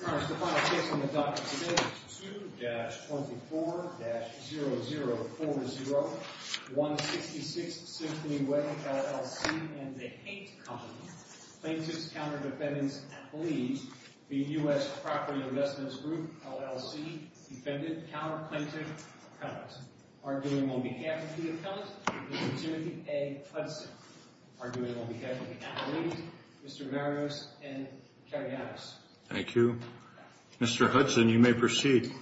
Your Honor, the final case on the docket today is 2-24-0040, 166 Symphony Way, LLC, and The Hate Company, Plaintiff's Counter Defendant's Affiliate, v. U.S. Property Investment Group, LLC, Defendant, Counter Plaintiff, Appellant. Arguing on behalf of the appellant, Mr. Timothy A. Hudson. Arguing on behalf of the appellate, Mr. Marius N. Cariados. Thank you. Mr. Hudson, you may proceed.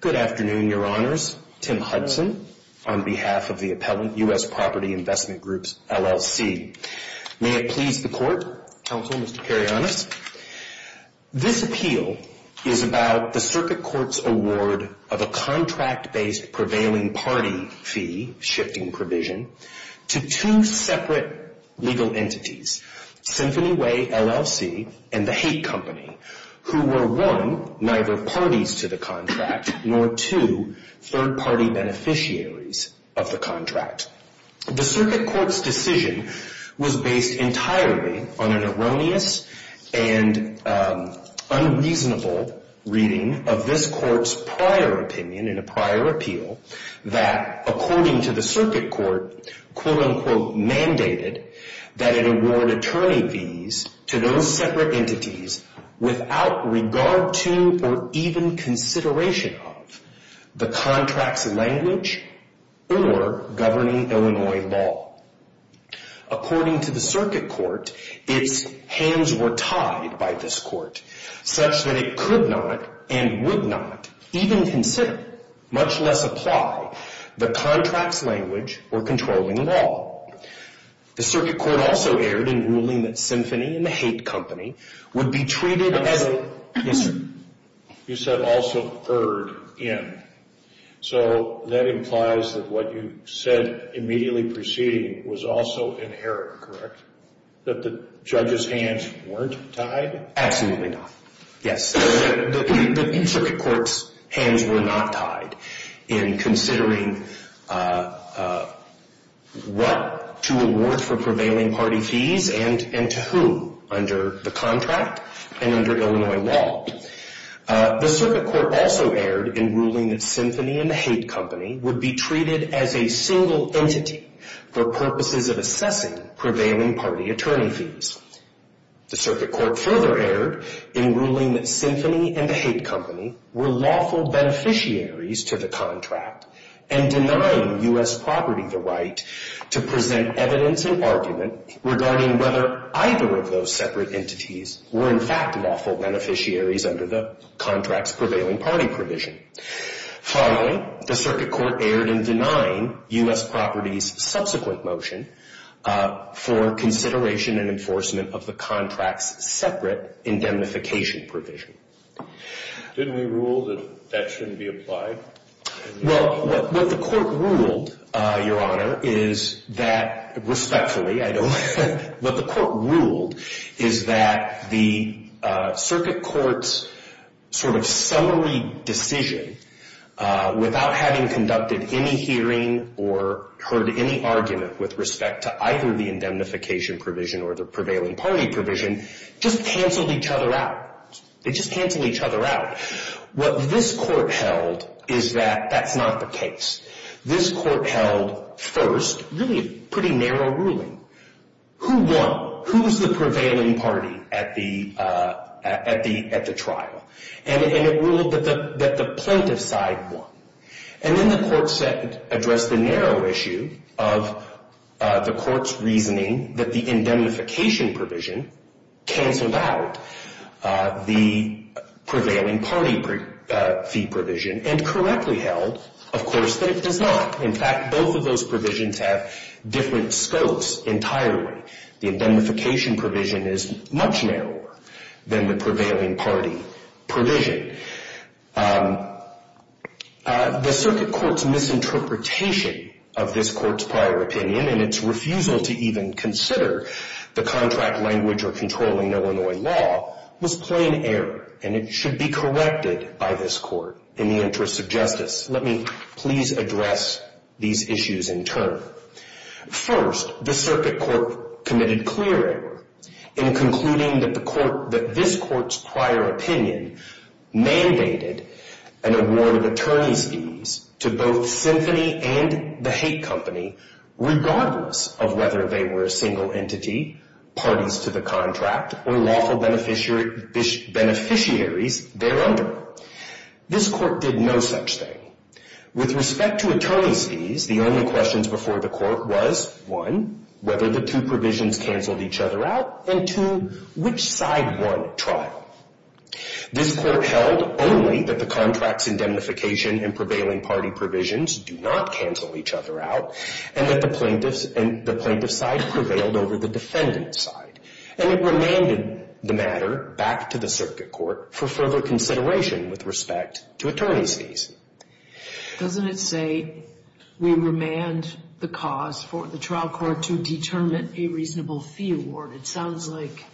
Good afternoon, Your Honors. Tim Hudson on behalf of the appellant, U.S. Property Investment Group, LLC. May it please the Court, Counsel, Mr. Cariados. This appeal is about the Circuit Court's award of a contract-based prevailing party fee, shifting provision, to two separate legal entities, Symphony Way, LLC, and The Hate Company, who were one, neither parties to the contract, nor two, third-party beneficiaries of the contract. The Circuit Court's decision was based entirely on an erroneous and unreasonable reading of this Court's prior opinion in a prior appeal, that according to the Circuit Court, quote-unquote, mandated that it award attorney fees to those separate entities without regard to, or even consideration of, the contract's language or governing Illinois law. According to the Circuit Court, its hands were tied by this Court, such that it could not, and would not, even consider, much less apply, the contract's language or controlling law. The Circuit Court also erred in ruling that Symphony and The Hate Company would be treated as a... You said, also erred in. So that implies that what you said immediately preceding was also inherent, correct? That the judge's hands weren't tied? Absolutely not, yes. The Circuit Court's hands were not tied in considering what to award for prevailing party fees, and to whom, under the contract, and under Illinois law. The Circuit Court also erred in ruling that Symphony and The Hate Company would be treated as a single entity for purposes of assessing prevailing party attorney fees. The Circuit Court further erred in ruling that Symphony and The Hate Company were lawful beneficiaries to the contract, and denying U.S. property the right to present evidence and argument regarding whether either of those separate entities were, in fact, lawful beneficiaries under the contract's prevailing party provision. Finally, the Circuit Court erred in denying U.S. property's subsequent motion for consideration and enforcement of the contract's separate indemnification provision. Didn't we rule that that shouldn't be applied? Well, what the Court ruled, Your Honor, is that, respectfully, I don't... What the Court ruled is that the Circuit Court's sort of summary decision, without having conducted any hearing or heard any argument with respect to either the indemnification provision or the prevailing party provision, just canceled each other out. They just canceled each other out. What this Court held is that that's not the case. This Court held, first, really a pretty narrow ruling. Who won? Who was the prevailing party at the trial? And it ruled that the plaintiff's side won. And then the Court addressed the narrow issue of the Court's reasoning that the indemnification provision canceled out the prevailing party fee provision, and correctly held, of course, that it does not. In fact, both of those provisions have different scopes entirely. The indemnification provision is much narrower than the prevailing party provision. The Circuit Court's misinterpretation of this Court's prior opinion, and its refusal to even consider the contract language or controlling Illinois law, was plain error, and it should be corrected by this Court in the interest of justice. Let me please address these issues in turn. First, the Circuit Court committed clear error in concluding that this Court's prior opinion mandated an award of attorney's fees to both Symphony and The Hate Company, regardless of whether they were a single entity, parties to the contract, or lawful beneficiaries thereunder. This Court did no such thing. With respect to attorney's fees, the only questions before the Court was, one, whether the two provisions canceled each other out, and two, which side won the trial? This Court held only that the contracts indemnification and prevailing party provisions do not cancel each other out, and that the plaintiff's side prevailed over the defendant's side. And it remanded the matter back to the Circuit Court for further consideration with respect to attorney's fees. Doesn't it say we remand the cause for the trial court to determine a reasonable fee award? It sounds like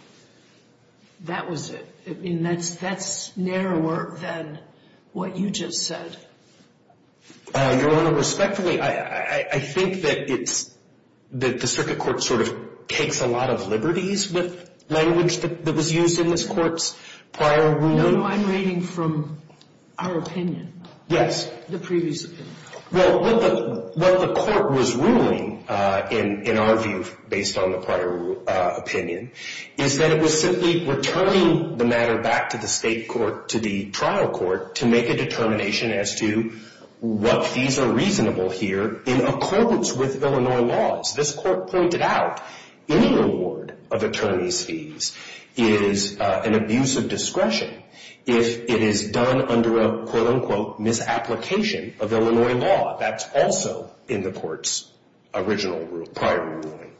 that was it. That's narrower than what you just said. Your Honor, respectfully, I think that it's that the Circuit Court sort of takes a lot of liberties with language that was used in this Court's prior ruling. No, no, I'm reading from our opinion. Yes. The previous opinion. Well, what the Court was ruling, in our view, based on the prior opinion, is that it was simply returning the matter back to the state court, to the trial court, to make a determination as to what fees are reasonable here in accordance with Illinois laws. This Court pointed out any reward of attorney's fees is an abuse of discretion if it is done under a quote-unquote misapplication of Illinois law. That's also in the Court's original prior ruling.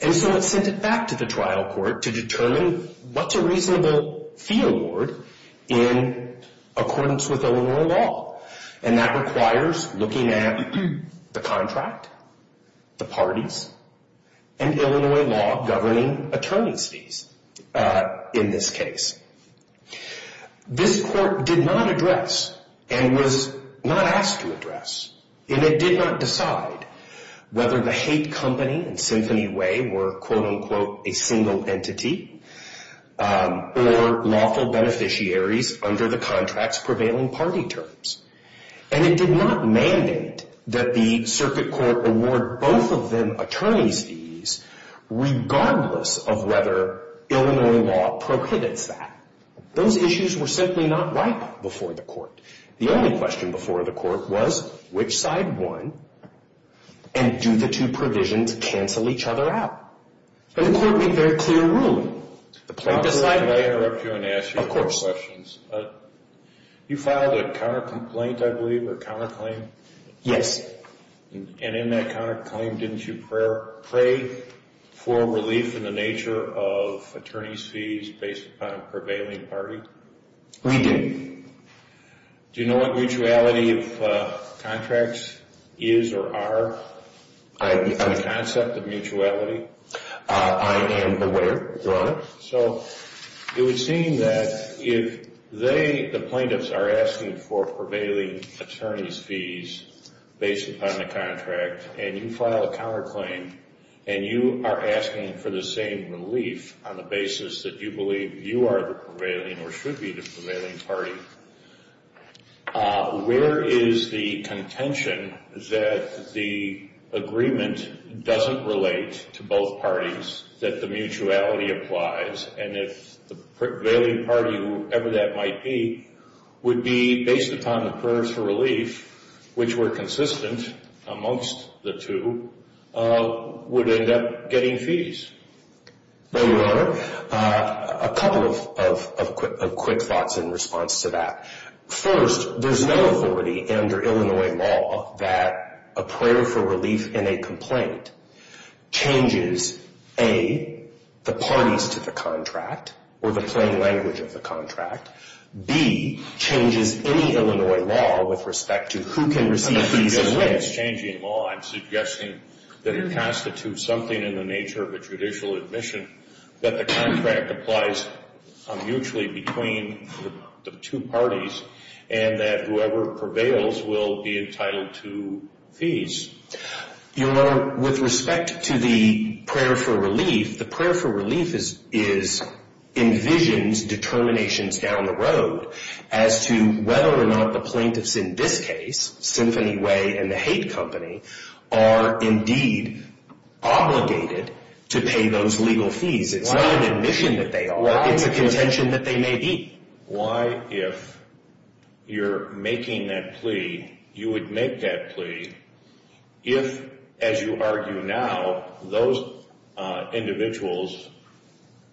And so it sent it back to the trial court to determine what's a reasonable fee award in accordance with Illinois law. And that requires looking at the contract, the parties, and Illinois law governing attorney's fees in this case. This Court did not address and was not asked to address, and it did not decide whether the Haight Company and Symphony Way were quote-unquote a single entity or lawful beneficiaries under the contract's prevailing party terms. And it did not mandate that the Circuit Court award both of them attorney's fees regardless of whether Illinois law prohibits that. Those issues were simply not right before the Court. The only question before the Court was which side won, and do the two provisions cancel each other out? And the Court made very clear ruling. Can I interrupt you and ask you a couple questions? Of course. You filed a counter-complaint, I believe, a counter-claim? Yes. And in that counter-claim, didn't you pray for relief in the nature of attorney's fees based upon a prevailing party? We did. Do you know what mutuality of contracts is or are? On the concept of mutuality? I am aware, Your Honor. So it would seem that if they, the plaintiffs, are asking for prevailing attorney's fees based upon the contract, and you file a counter-claim, and you are asking for the same relief on the basis that you believe you are the prevailing or should be the prevailing party, where is the contention that the agreement doesn't relate to both parties, that the mutuality applies, and if the prevailing party, whoever that might be, would be based upon the prayers for relief, which were consistent amongst the two, would end up getting fees? Well, Your Honor, a couple of quick thoughts in response to that. First, there is no authority under Illinois law that a prayer for relief in a complaint changes, A, the parties to the contract or the plain language of the contract, B, changes any Illinois law with respect to who can receive fees, C, changes any Illinois law, I am suggesting that it constitutes something in the nature of a judicial admission that the contract applies mutually between the two parties and that whoever prevails will be entitled to fees. Your Honor, with respect to the prayer for relief, the prayer for relief is, envisions determinations down the road as to whether or not the plaintiffs in this case, Symphony Way and the Haight Company, are indeed obligated to pay those legal fees. It's not an admission that they are, it's a contention that they may be. Why, if you're making that plea, you would make that plea if, as you argue now, those individuals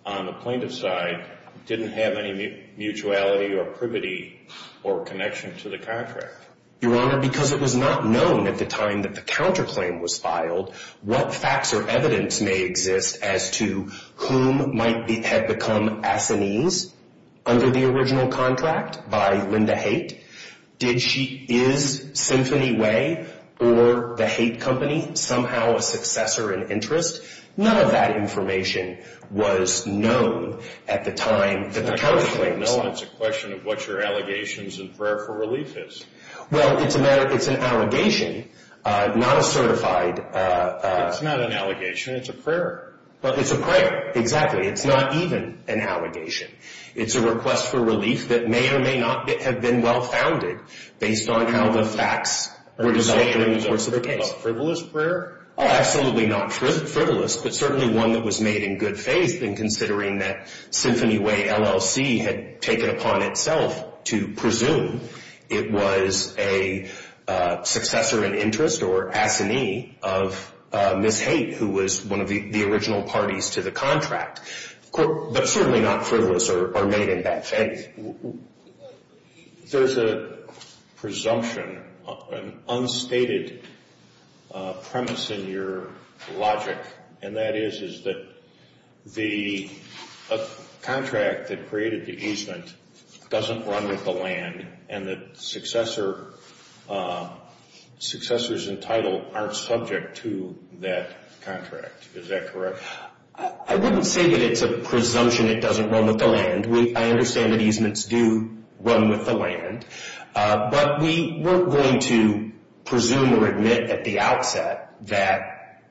on the plaintiff's side didn't have any mutuality or privity or connection to the contract? Your Honor, because it was not known at the time that the counterclaim was filed, what facts or evidence may exist as to whom might have become assinees under the original contract by Linda Haight? Did she, is Symphony Way or the Haight Company somehow a successor in interest? None of that information was known at the time that the counterclaim was filed. No, it's a question of what your allegations in prayer for relief is. Well, it's a matter, it's an allegation, not a certified It's not an allegation, it's a prayer. Well, it's a prayer, exactly. It's not even an allegation. It's a request for relief that may or may not have been well-founded based on how the facts were decided in the course of the case. Are you talking about frivolous prayer? Oh, absolutely not frivolous, but certainly one that was made in good faith in considering that Symphony Way LLC had taken upon itself to presume it was a successor in interest or assinee of Ms. Haight who was one of the original parties to the contract, but certainly not frivolous or made in bad faith. There's a presumption, an unstated premise in your logic, and that is that the contract that created the easement doesn't run with the land and that successors in title aren't subject to that contract. Is that correct? I wouldn't say that it's a presumption it doesn't run with the land. I understand that easements do run with the land, but we weren't going to presume or admit at the outset that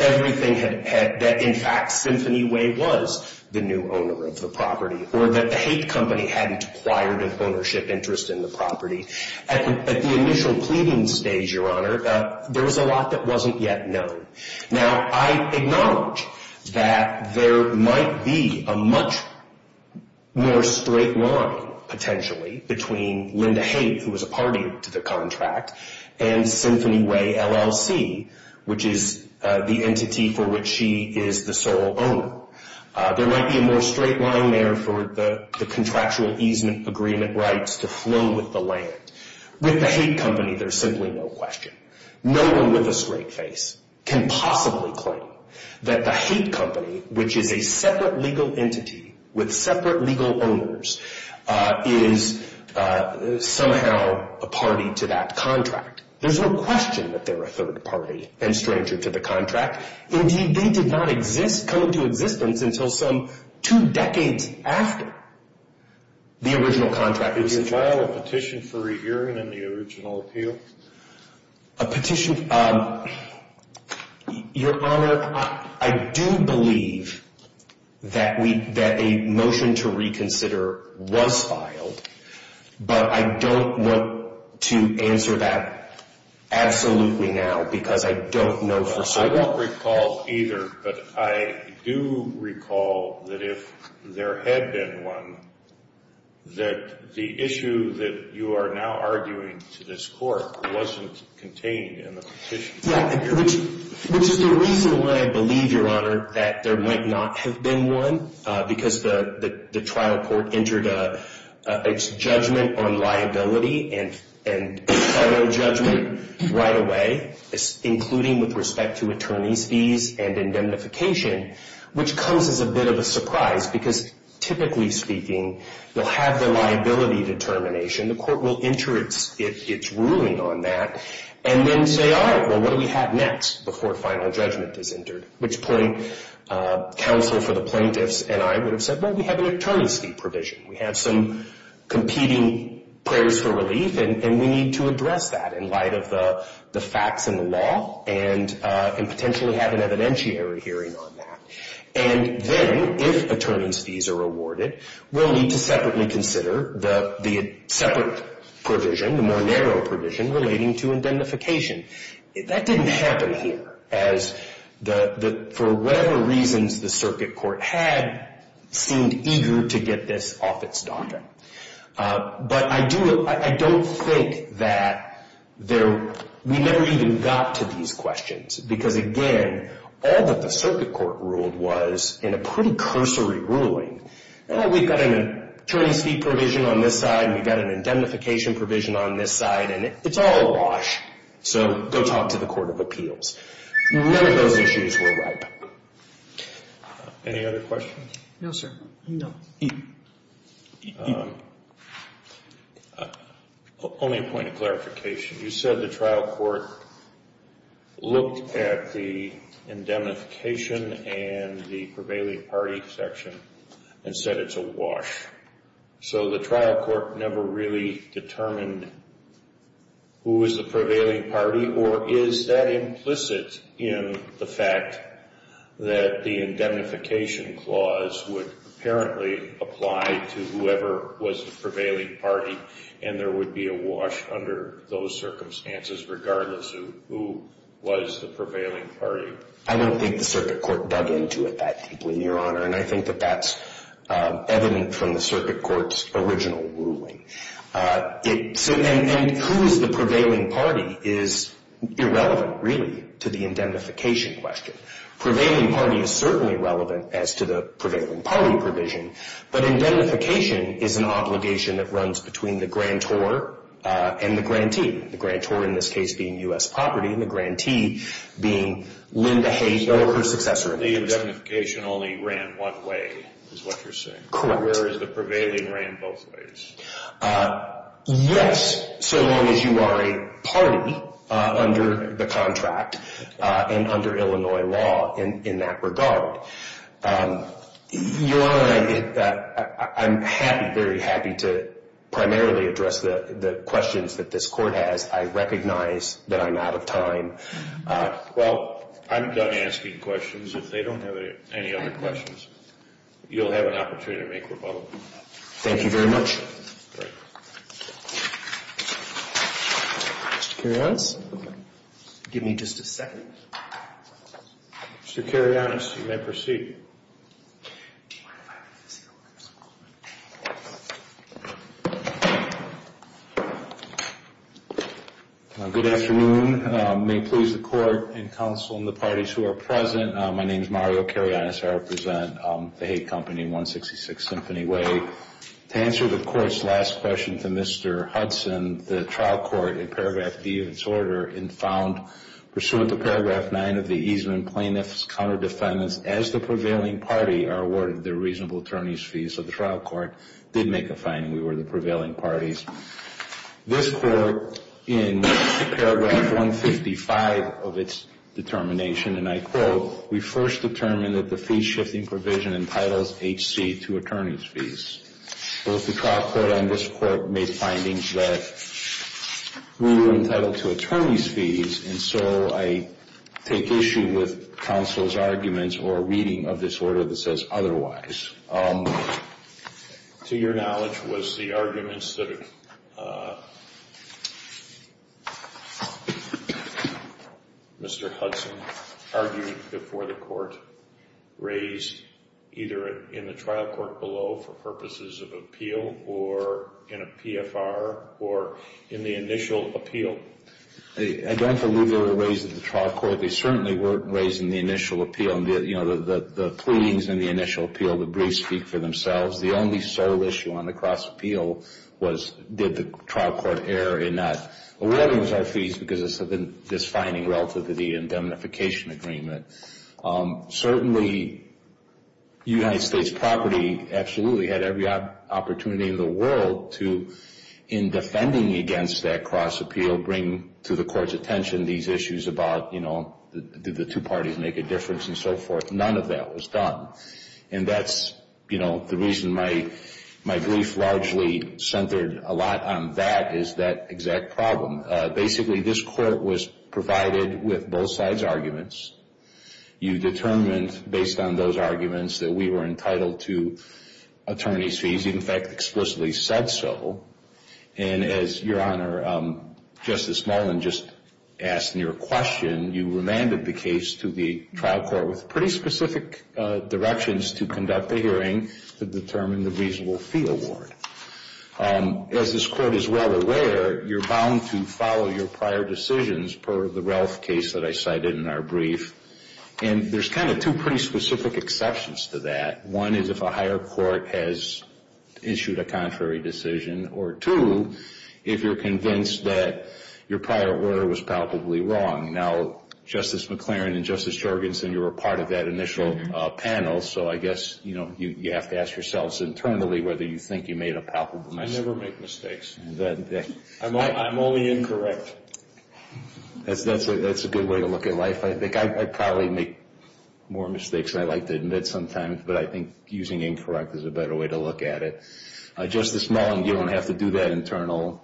everything had, that in fact Symphony Way was the new owner of the property or that the Haight Company hadn't acquired an ownership interest in the property. At the initial pleading stage, Your Honor, there was a lot that wasn't yet known. Now, I acknowledge that there might be a much more straight line, potentially, between Linda Haight who was a party to the contract and Symphony Way LLC which is the entity for which she is the sole owner. There might be a more straight line there for the contractual easement agreement rights to flow with the land. With the Haight Company, there's simply no question. No one with a straight face can possibly claim that the Haight Company, which is a separate legal entity with separate legal owners, is somehow a party to that contract. There's no question that they're a third party and stranger to the contract. Indeed, they did not exist, come into existence until some two decades after the original contract. Did you file a petition for re-hearing in the original appeal? A petition? Your Honor, I do believe that a motion to reconsider was filed, but I don't want to answer that absolutely now because I don't know for certain. I won't recall either, but I do recall that if there had been one, that the issue that you are now arguing to this court wasn't contained in the petition. Which is the reason why I believe, Your Honor, that there might not have been one because the trial court entered its judgment on liability and federal judgment right away, including with respect to attorney's fees and indemnification, which comes as a bit of a surprise because, typically speaking, you'll have the liability determination. The court will enter its ruling on that and then say, all right, well, what do we have next before final judgment is entered? At which point, counsel for the plaintiffs and I would have said, well, we have an attorney's fee provision. We have some competing prayers for relief, and we need to address that in light of the facts and the law and potentially have an evidentiary hearing on that. And then, if attorney's fees are awarded, we'll need to separately consider the separate provision, the more narrow provision, relating to indemnification. That didn't happen here. For whatever reasons, the circuit court had seemed eager to get this off its docket. But I don't think that we never even got to these questions because, again, all that the circuit court ruled was, in a pretty cursory ruling, we've got an attorney's fee provision on this side and we've got an indemnification provision on this side, and it's all a wash, so go talk to the court of appeals. None of those issues were brought up. Any other questions? No, sir. No. Only a point of clarification. You said the trial court looked at the indemnification and the prevailing party section and said it's a wash. So the trial court never really determined who was the prevailing party, or is that implicit in the fact that the indemnification clause would apparently apply to whoever was the prevailing party and there would be a wash under those circumstances regardless of who was the prevailing party? I don't think the circuit court dug into it that deeply, Your Honor, and I think that that's evident from the circuit court's original ruling. And who is the prevailing party is irrelevant, really, to the indemnification question. Prevailing party is certainly relevant as to the prevailing party provision, but indemnification is an obligation that runs between the grantor and the grantee, the grantor in this case being U.S. Property and the grantee being Linda Hayes or her successor. The indemnification only ran one way, is what you're saying. Correct. Whereas the prevailing ran both ways. Yes, so long as you are a party under the contract and under Illinois law in that regard. Your Honor, I'm happy, very happy, to primarily address the questions that this court has. I recognize that I'm out of time. Well, I'm done asking questions. If they don't have any other questions, you'll have an opportunity to make rebuttal. Thank you very much. Mr. Karyanis, give me just a second. Mr. Karyanis, you may proceed. Good afternoon. May it please the court and counsel and the parties who are present, my name is Mario Karyanis. I represent the Haight Company in 166 Symphony Way. To answer the court's last question to Mr. Hudson, the trial court, in paragraph D of its order, in found, pursuant to paragraph 9 of the easement, plaintiffs, counter defendants, as the prevailing party, are awarded their reasonable attorney's fees. So the trial court did make a finding we were the prevailing parties. This court, in paragraph 155 of its determination, and I quote, we first determined that the fee-shifting provision entitles H.C. to attorney's fees. Both the trial court and this court made findings that we were entitled to attorney's fees, and so I take issue with counsel's arguments or reading of this order that says otherwise. To your knowledge, was the arguments that Mr. Hudson argued before the court raised either in the trial court below for purposes of appeal or in a PFR or in the initial appeal? I don't believe they were raised in the trial court. They certainly weren't raised in the initial appeal. The pleadings in the initial appeal, the briefs speak for themselves. The only sole issue on the case was did the trial court err in not awarding us our fees because of this finding relative to the indemnification agreement. Certainly, United States property absolutely had every opportunity in the world to, in defending against that cross appeal, bring to the court's attention these issues about, you know, did the two parties make a difference and so forth. None of that was done. And that's, you know, the reason my brief largely centered a lot on that is that exact problem. Basically, this court was provided with both sides' arguments. You determined, based on those arguments, that we were entitled to attorney's fees. You, in fact, explicitly said so. And as Your Honor, Justice Mullin just asked in your question, you remanded the case to the trial court with pretty specific directions to conduct the hearing to determine the reasonable fee award. As this court is well aware, you're bound to follow your prior decisions per the Ralph case that I cited in our brief. And there's kind of two pretty specific exceptions to that. One is if a higher court has issued a contrary decision. Or two, if you're convinced that your prior order was palpably wrong. Now, Justice McLaren and Justice Jorgensen, you were part of that initial panel. So I guess, you know, you have to ask yourselves internally whether you think you made a palpable mistake. I never make mistakes. I'm only incorrect. That's a good way to look at life. I think I probably make more mistakes than I like to admit sometimes. But I think using incorrect is a better way to look at it. Justice Mullin, you don't have to do that internal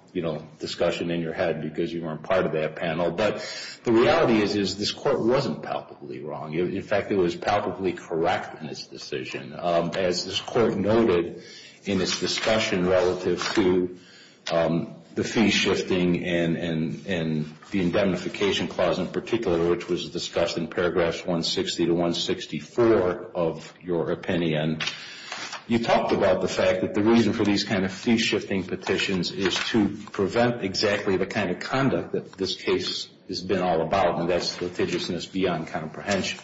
discussion in your head because you weren't part of that panel. But the reality is this court wasn't palpably wrong. In fact, it was palpably correct in its decision. As this court noted in its discussion relative to the fee shifting and the indemnification clause in particular, which was discussed in paragraphs 160 to 164 of your opinion, you talked about the fact that the reason for these kind of fee shifting petitions is to prevent exactly the kind of conduct that this case has been all about. And that's litigiousness beyond comprehension.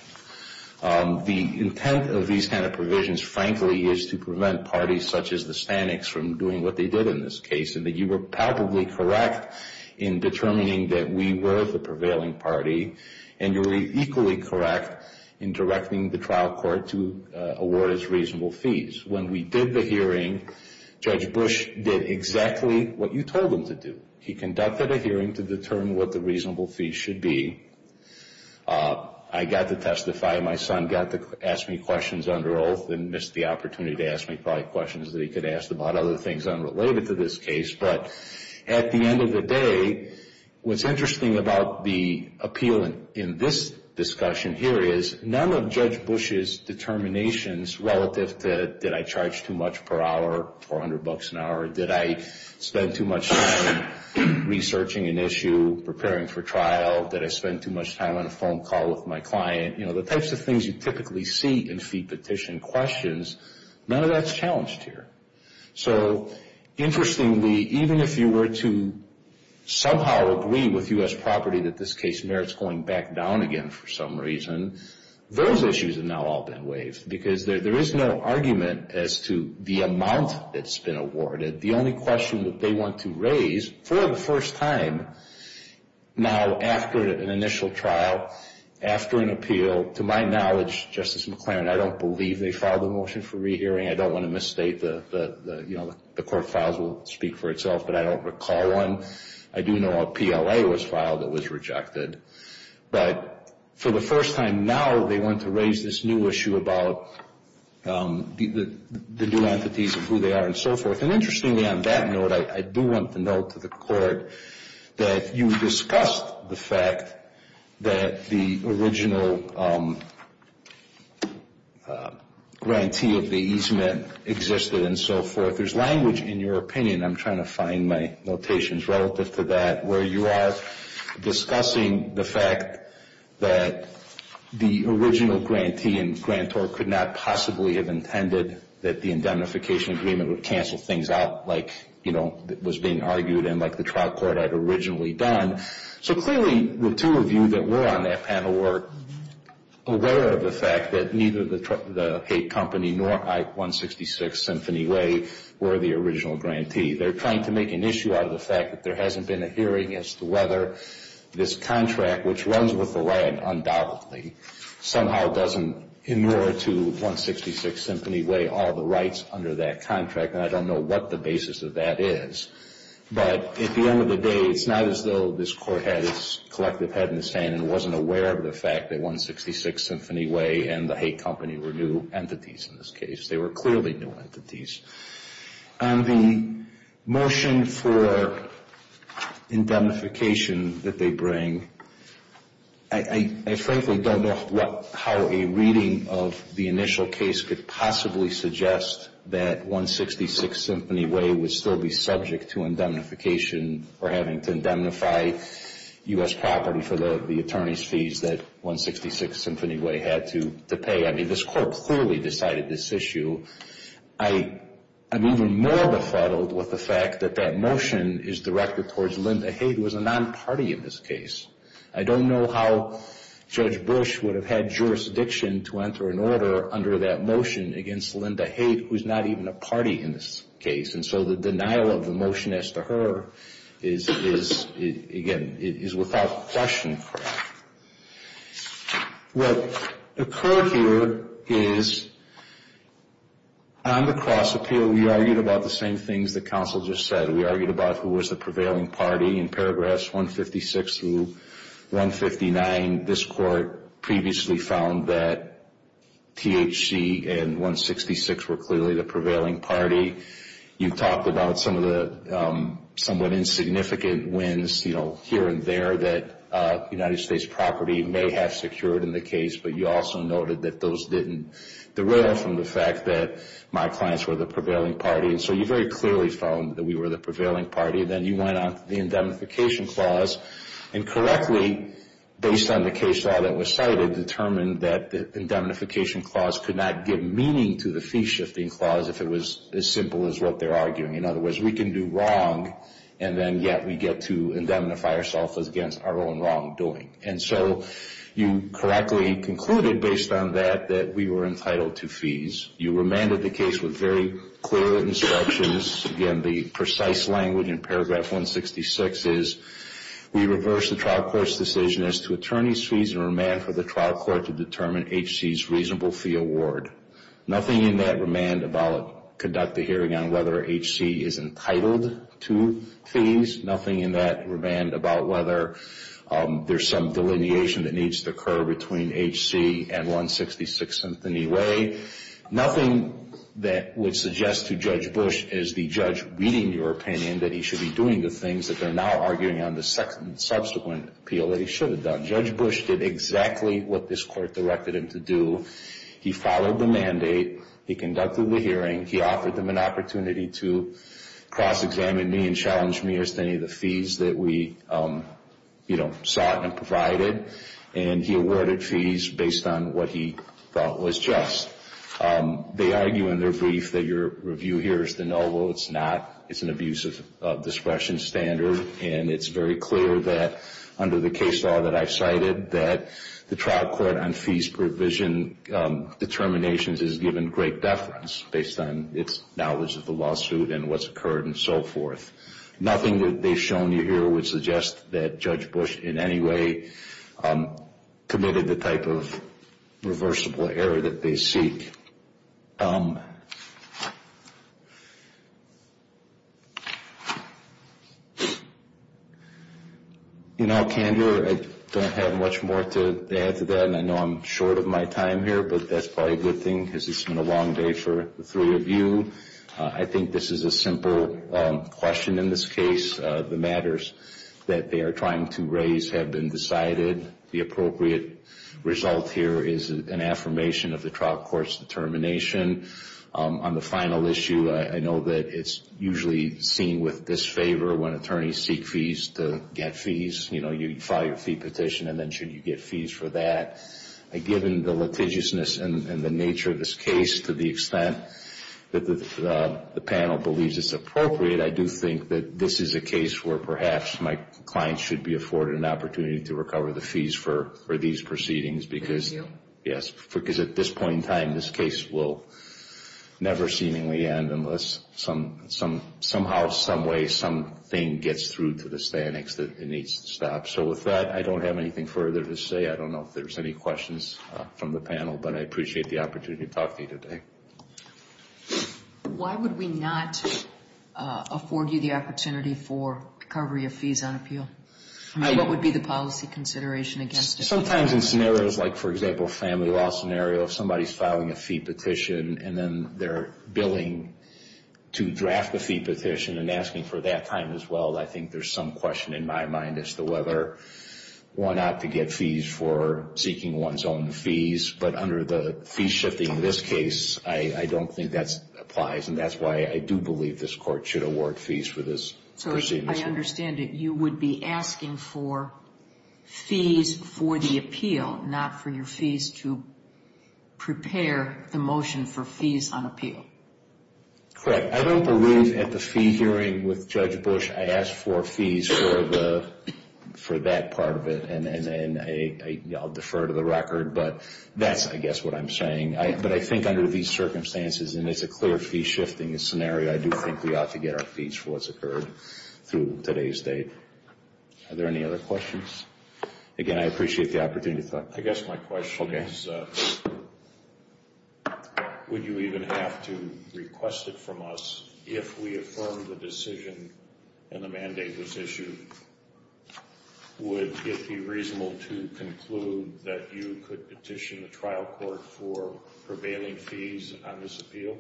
The intent of these kind of provisions, frankly, is to prevent parties such as the Staniks from doing what they did in this case. And that you were palpably correct in determining that we were the prevailing party. And you were equally correct in directing the trial court to award its reasonable fees. When we did the hearing, Judge Bush did exactly what you told him to do. He conducted a hearing to determine what the reasonable fees should be. I got to testify. My son got to ask me questions under oath and missed the opportunity to ask me probably questions that he could ask about other things unrelated to this case. But at the end of the day, what's interesting about the appeal in this discussion here is none of Judge Bush's determinations relative to did I charge too much per hour, 400 bucks an hour? Did I spend too much time researching an issue, preparing for trial? Did I spend too much time on a phone call with my client? You know, the types of things you typically see in fee petition questions, none of that's challenged here. So, interestingly, even if you were to somehow agree with U.S. Property that this case merits going back down again for some reason, those issues have now all been waived. Because there is no argument as to the amount that's been awarded. The only question that they want to raise for the first time now after an initial trial, after an appeal to my knowledge, Justice McClaren, I don't believe they filed a motion for re-hearing. I don't want to misstate the court files will speak for itself, but I don't recall one. I do know a PLA was filed that was rejected. But for the first time now, they want to raise this new issue about the new entities and who they are and so forth. And interestingly on that note, I do want to note to the court that you discussed the fact that the original grantee of the easement existed and so forth. There's language in your opinion, I'm trying to find my notations relative to that, where you are discussing the fact that the original grantee and grantor could not possibly have intended that the indemnification agreement would cancel things out like was being argued and like the trial court had originally done. So clearly the two of you that were on that panel were aware of the fact that neither the Haight Company nor Ike 166 Symphony Way were the original grantee. They're trying to make an issue out of the fact that there hasn't been a hearing as to whether this contract, which runs with the land undoubtedly, somehow doesn't inure to 166 Symphony Way all the rights under that contract. And I don't know what the basis of that is. But at the end of the day, it's not as though this court had its collective head in its hand and wasn't aware of the fact that 166 Symphony Way and the Haight Company were new entities in this case. They were clearly new entities. On the motion for indemnification that they bring, I frankly don't know how a reading of the initial case could possibly suggest that 166 Symphony Way would still be subject to indemnification or having to indemnify U.S. property for the attorney's fees that 166 Symphony Way had to pay. I mean, this court clearly decided this issue. I'm even more befuddled with the fact that that motion is directed towards Linda Haight, who is a non-party in this case. I don't know how Judge Bush would have had jurisdiction to enter an order under that motion against Linda Haight, who is not even a party in this case. And so the denial of the motion as to her is, again, is without question. What occurred here is, on the cross appeal, we argued about the same things that counsel just said. We argued about who was the prevailing party in paragraphs 156 through 159. This court previously found that THC and 166 were clearly the prevailing party. You've talked about some of the somewhat insignificant wins here and there that United States property may have secured in the case, but you also noted that those didn't derail from the fact that my clients were the prevailing party. And so you very clearly found that we were the prevailing party. Then you went on to the indemnification clause and correctly, based on the case law that was cited, determined that the indemnification clause could not give meaning to the fee-shifting clause if it was as simple as what they're arguing. In other words, we can do wrong and then yet we get to indemnify ourselves against our own wrongdoing. And so you correctly concluded, based on that, that we were entitled to fees. You remanded the case with very clear instructions. Again, the precise language in paragraph 166 is we reverse the trial court's decision as to attorney's fees and remand for the trial court to determine HC's reasonable fee award. Nothing in that remand about conduct a hearing on whether HC is entitled to fees. Nothing in that remand about whether there's some delineation that needs to occur between HC and 166 in any way. Nothing that would suggest to Judge Bush as the judge reading your opinion that he should be doing the things that they're now arguing on the subsequent appeal that he should have done. Judge Bush did exactly what this court directed him to do. He followed the mandate. He conducted the hearing. He offered them an opportunity to cross-examine me and challenge me as to any of the fees that we sought and provided. And he awarded fees based on what he thought was just. They argue in their brief that your review here is de novo. It's not. It's an abuse of discretion standard and it's very clear that under the case law that I've cited that the trial court on fees provision determinations is given great deference based on its knowledge of the lawsuit and what's occurred and so forth. Nothing that they've shown you here would suggest that Judge Bush in any way committed the type of reversible error that they seek. In all candor, I don't have much more to add to that and I know I'm short of my time here but that's probably a good thing because it's been a long day for the three of you. I think this is a simple question in this case. The matters that they are trying to raise have been decided. The appropriate result here is an affirmation of the trial court's determination. On the final issue, I know that it's usually seen with disfavor when attorneys seek fees to get fees. You file your fee petition and then should you get fees for that. Given the litigiousness and the nature of this case to the extent that the panel believes it's appropriate, I do think that this is a case where perhaps my client should be afforded an opportunity to recover the fees for these proceedings. At this point in time, this case will never seemingly end unless somehow, someway something gets through to the standings that it needs to stop. With that, I don't have anything further to say. I don't know if there's any questions from the panel but I appreciate the opportunity to talk to you today. Why would we not afford you the opportunity for recovery of fees on appeal? What would be the policy consideration against it? Sometimes in scenarios like, for example, a family law scenario, if somebody's filing a fee petition and then they're billing to draft the fee petition and asking for that time as well, I think there's some question in my mind as to whether or not to get fees for seeking one's own fees. But under the fee shifting in this case, I don't think that applies and that's why I do believe this court should award fees for this proceeding. So I understand that you would be asking for fees for the appeal, not for your fees to prepare the motion for fees on appeal. Correct. I don't believe at the fee hearing with Judge Bush I asked for fees for that part of it and I'll defer to the record but that's, I guess, what I'm saying. But I think under these circumstances, and it's a clear fee shifting scenario, I do think we ought to get our fees for what's occurred through today's date. Are there any other questions? Again, I appreciate the opportunity to talk. I guess my question is would you even have to request it from us if we affirmed the decision and the mandate was issued? Would it be reasonable to conclude that you could petition the trial court for prevailing fees on this appeal?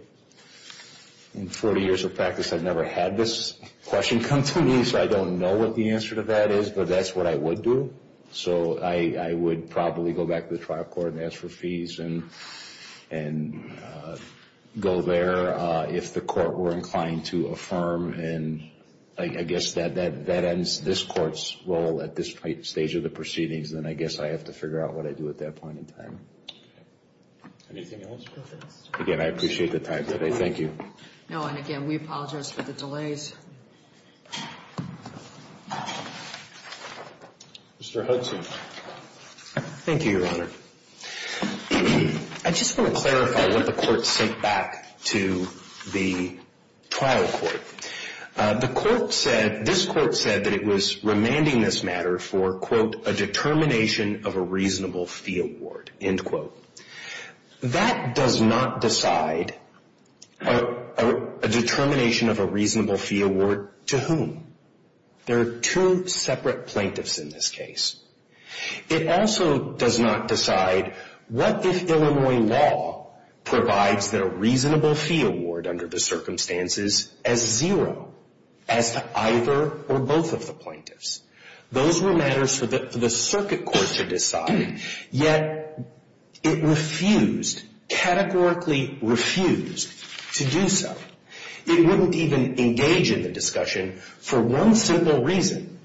In 40 years of practice, I've never had this question come to me so I don't know what the answer to that is but that's what I would do. So I would probably go back to the trial court and ask for fees and go there if the court were inclined to affirm and I guess that ends this court's role at this stage of the proceedings and I guess I have to figure out what I do at that point in time. Anything else? Again, I appreciate the time today. Thank you. No, and again, we apologize for the delays. Mr. Hudson. Thank you, Your Honor. I just want to clarify what the court sent back to the trial court. The court said, this court said that it was remanding this matter for, quote, a determination of a reasonable fee award, end quote. That does not decide a determination of a reasonable fee award to whom? There are two separate plaintiffs in this case. It also does not decide what if Illinois law provides that a reasonable fee award under the circumstances as zero as to either or both of the plaintiffs? Those were matters for the circuit court to decide, yet it refused, categorically refused to do so. It wouldn't even engage in the discussion for one simple reason.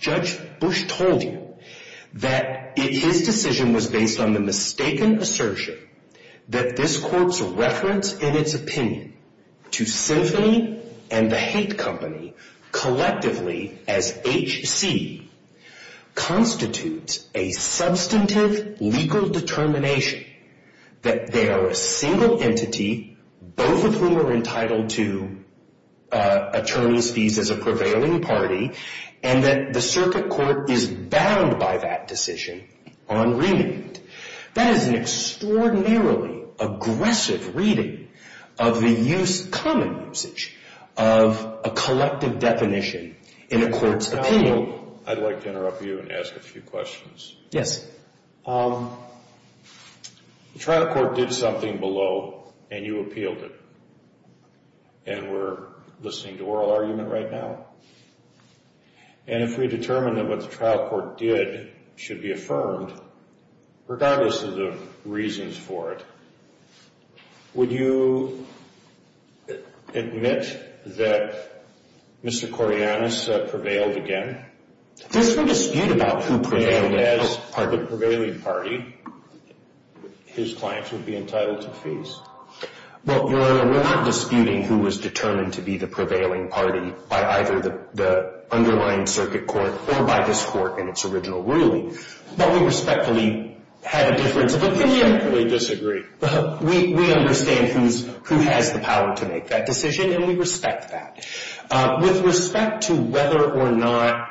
Judge Bush told you that his decision was based on the mistaken assertion that this court's reference in its opinion to Symphony and the hate company collectively as HC constitutes a substantive legal determination that they are a single entity, both of whom are entitled to attorney's fees as a prevailing party, and that the circuit court is bound by that decision on remand. That is an extraordinarily aggressive reading of the use, common usage of a collective definition in a court's opinion. I'd like to interrupt you and ask a few questions. Yes. The trial court did something below, and you appealed it. And we're listening to oral argument right now. And if we determine that what the trial court did should be affirmed, regardless of the reasons for it, would you admit that Mr. Koryanis prevailed again? Does he dispute about who prevailed as the prevailing party? His clients would be entitled to fees? Well, Your Honor, we're not disputing who was determined to be the prevailing party by either the underlying circuit court or by this court in its original ruling. But we respectfully had a difference of opinion. We respectfully disagree. We understand who has the power to make that decision, and we respect that. With respect to whether or not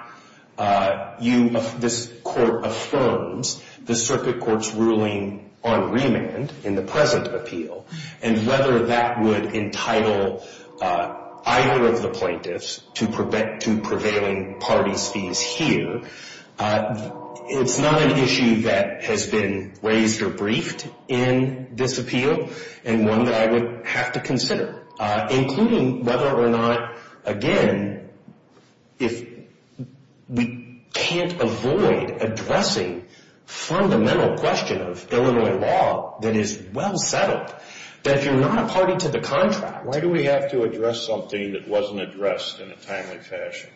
this court affirms the circuit court's ruling on remand in the present appeal and whether that would entitle either of the plaintiffs to prevailing party's fees here, it's not an issue that has been raised or briefed in this appeal, and one that I would have to consider, including whether or not, again, if we can't avoid addressing the fundamental question of Illinois law that is well settled, that if you're not a party to the contract Why do we have to address something that wasn't addressed in a timely fashion?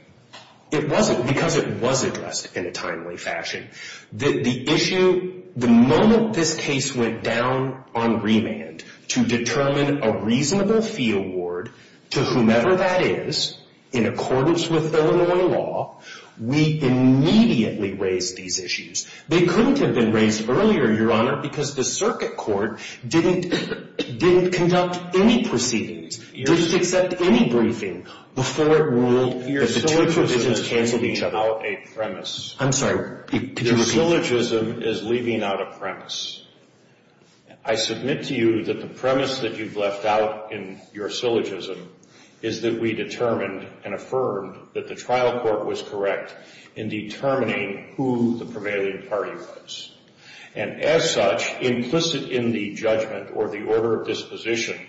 It wasn't because it was addressed in a timely fashion. The moment this case went down on remand to determine a reasonable fee award to whomever that is, in accordance with Illinois law, we immediately raised these issues. They couldn't have been raised earlier, Your Honor, because the circuit court didn't conduct any proceedings, didn't accept any briefing before it ruled that the two provisions cancelled each other. I'm sorry, could you repeat that? The syllogism is leaving out a premise. I submit to you that the premise that you've left out in your syllogism is that we determined and affirmed that the trial court was correct in determining who the prevailing party was. And as such, implicit in the judgment or the order of disposition,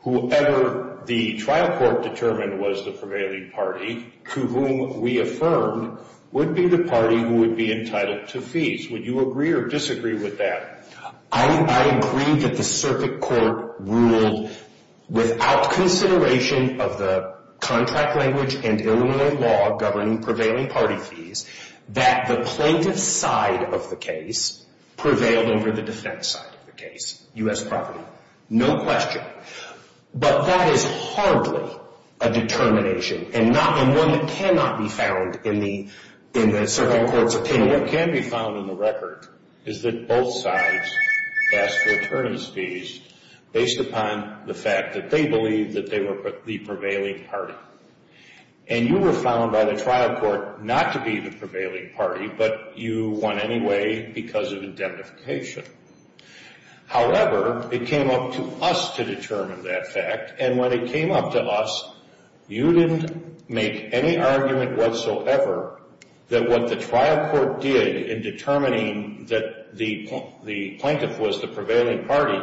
whoever the trial court determined was the prevailing party to whom we affirmed would be the party who would be entitled to fees. Would you agree or disagree with that? I agree that the circuit court ruled without consideration of the contract language and Illinois law governing prevailing party fees, that the plaintiff's side of the case prevailed over the defense side of the case, U.S. property. No question. But that is hardly a determination and one that cannot be found in the circuit court's opinion. What can be found in the record is that both sides asked for attorneys' fees based upon the fact that they believed that they were the prevailing party. And you were found by the trial court not to be the prevailing party, but you won anyway because of indemnification. However, it came up to us to determine that fact. And when it came up to us, you didn't make any argument whatsoever that what the trial court did in determining that the plaintiff was the prevailing party,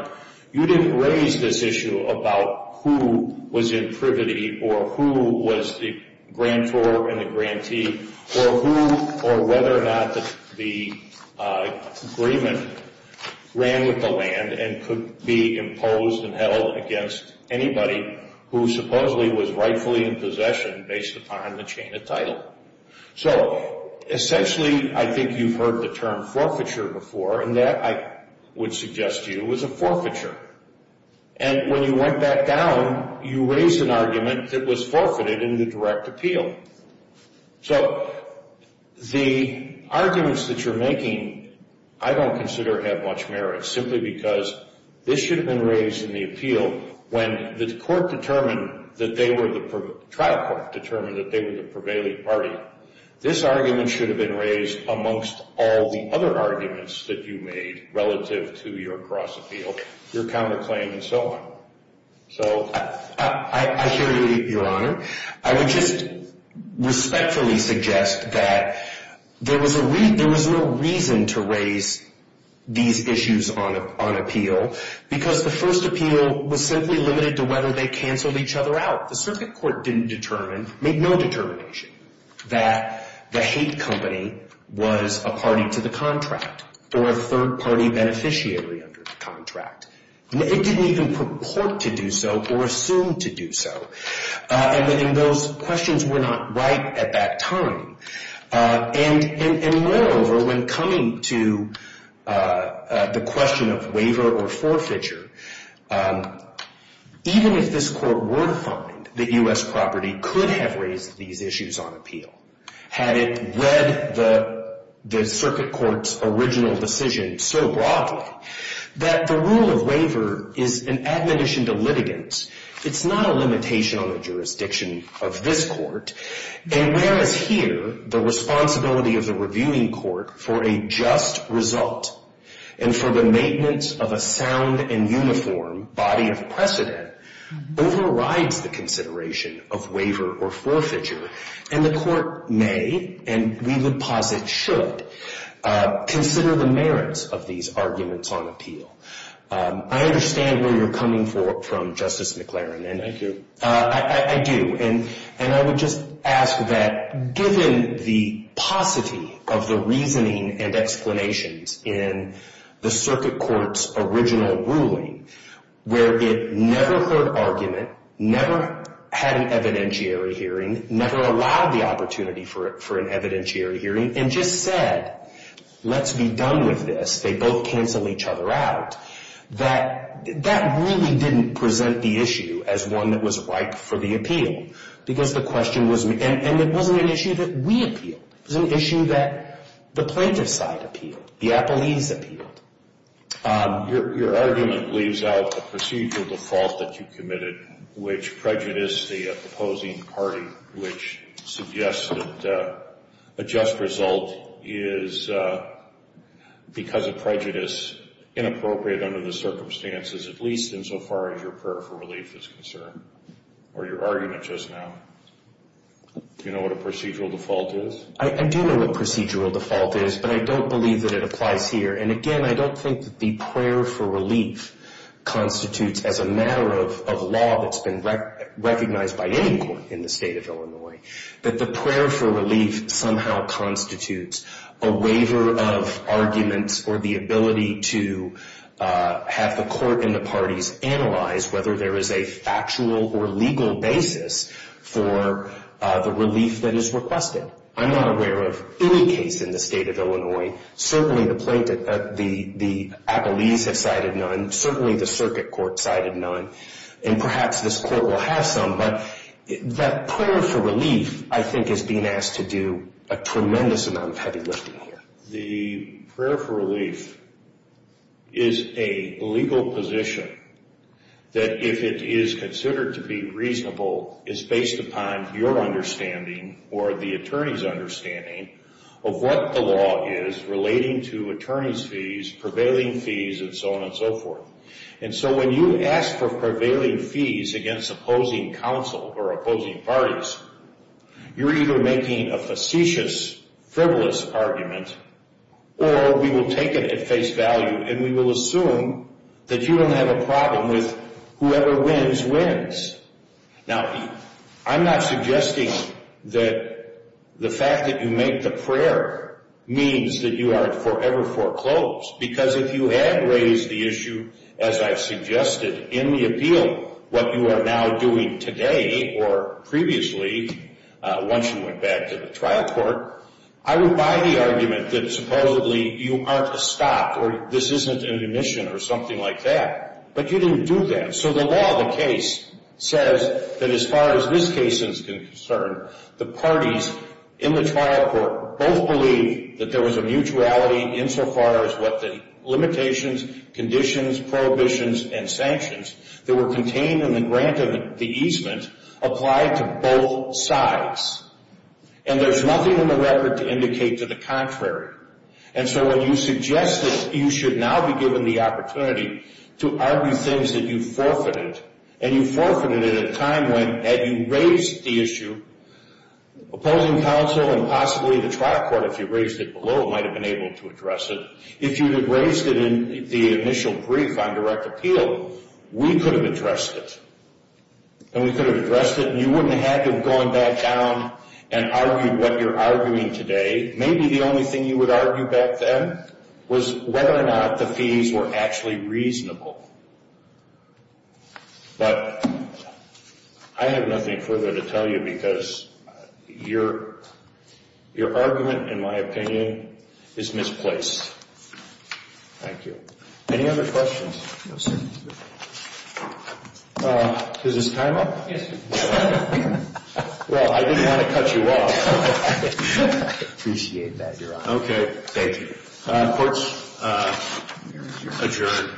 you didn't raise this issue about who was in privity or who was the grantor and the grantee or who or whether or not the agreement ran with the land and could be imposed and held against anybody who supposedly was rightfully in possession based upon the chain of title. So, essentially, I think you've heard the term forfeiture before and that, I would suggest to you, was a forfeiture. And when you went back down, you raised an argument that was forfeited in the direct appeal. So, the arguments that you're making, I don't consider have much merit, simply because this should have been raised in the appeal when the trial court determined that they were the prevailing party. This argument should have been raised amongst all the other arguments that you made relative to your cross-appeal, your counterclaim and so on. I hear you, Your Honor. I would just respectfully suggest that there was no reason to raise these issues on appeal because the first appeal was simply limited to whether they canceled each other out. The circuit court didn't determine, made no determination, that the hate company was a party to the contract or a third party beneficiary under the contract. It didn't even purport to do so or assume to do so. And those questions were not right at that time. And moreover, when coming to the question of waiver or forfeiture, even if this court were to find that U.S. property could have raised these issues on appeal, had it read the circuit court's original decision so broadly, that the rule of waiver is an admonition to litigants. It's not a limitation on the jurisdiction of this court. And whereas here, the responsibility of the reviewing court for a just result and for the maintenance of a sound and uniform body of precedent overrides the consideration of waiver or forfeiture. And the court may, and we would posit should, consider the merits of these arguments on appeal. I understand where you're coming from, Justice McLaren. I do. I do. And I would just ask that given the paucity of the reasoning and explanations in the circuit court's original ruling, where it never heard argument, never had an evidentiary hearing, never allowed the opportunity for an evidentiary hearing, and just said, let's be done with this, they both cancel each other out, that really didn't present the issue as one that was ripe for the appeal. Because the question was, and it wasn't an issue that we appealed. It was an issue that the plaintiff side appealed. The appellees appealed. Your argument leaves out the procedural default that you committed, which prejudiced the opposing party, which suggests that a just result is, because of prejudice, inappropriate under the circumstances, at least insofar as your prayer for relief is concerned. Or your argument just now. Do you know what a procedural default is? I do know what procedural default is, but I don't believe that it applies here. And again, I don't think that the prayer for relief constitutes, as a matter of law that's been recognized by any court in the state of Illinois, that the prayer for relief somehow constitutes a waiver of arguments or the ability to have the court and the parties analyze whether there is a factual or legal basis for the relief that is requested. I'm not aware of any case in the state of Illinois. Certainly the appellees have cited none. Certainly the circuit court cited none. And perhaps this court will have some, but that prayer for relief, I think, is being asked to do a tremendous amount of heavy lifting here. The prayer for relief is a legal position that, if it is considered to be reasonable, is based upon your understanding or the attorney's understanding of what the law is relating to attorney's fees, prevailing fees, and so on and so forth. And so when you ask for prevailing fees against opposing counsel or opposing parties, you're either making a facetious, frivolous argument, or we will take it at face value and we will assume that you don't have a problem with whoever wins, wins. Now, I'm not suggesting that the fact that you make the prayer means that you are forever foreclosed, because if you had raised the issue, as I've suggested, in the appeal, what you are now doing today or previously once you went back to the trial court, I would buy the argument that supposedly you aren't a stop or this isn't an omission or something like that. But you didn't do that. So the law of the case says that as far as this case is concerned, the parties in the trial court both believe that there was a mutuality insofar as what the limitations, conditions, prohibitions, and sanctions that were contained in the grant of the easement applied to both sides. And there's nothing in the record to indicate to the contrary. And so when you suggest that you should now be given the opportunity to argue things that you forfeited, and you forfeited it at a time when, had you raised the issue, opposing counsel and possibly the trial court if you raised it below might have been able to address it. If you had raised it in the initial brief on direct appeal, we could have addressed it. And we could have addressed it and you wouldn't have had to have gone back down and argued what you're arguing today. Maybe the only thing you would argue back then was whether or not the fees were actually reasonable. But I have nothing further to tell you because your argument, in my opinion, is misplaced. Thank you. Any other questions? Does this time up? Well, I didn't want to cut you off. I appreciate that, Your Honor. Court is adjourned.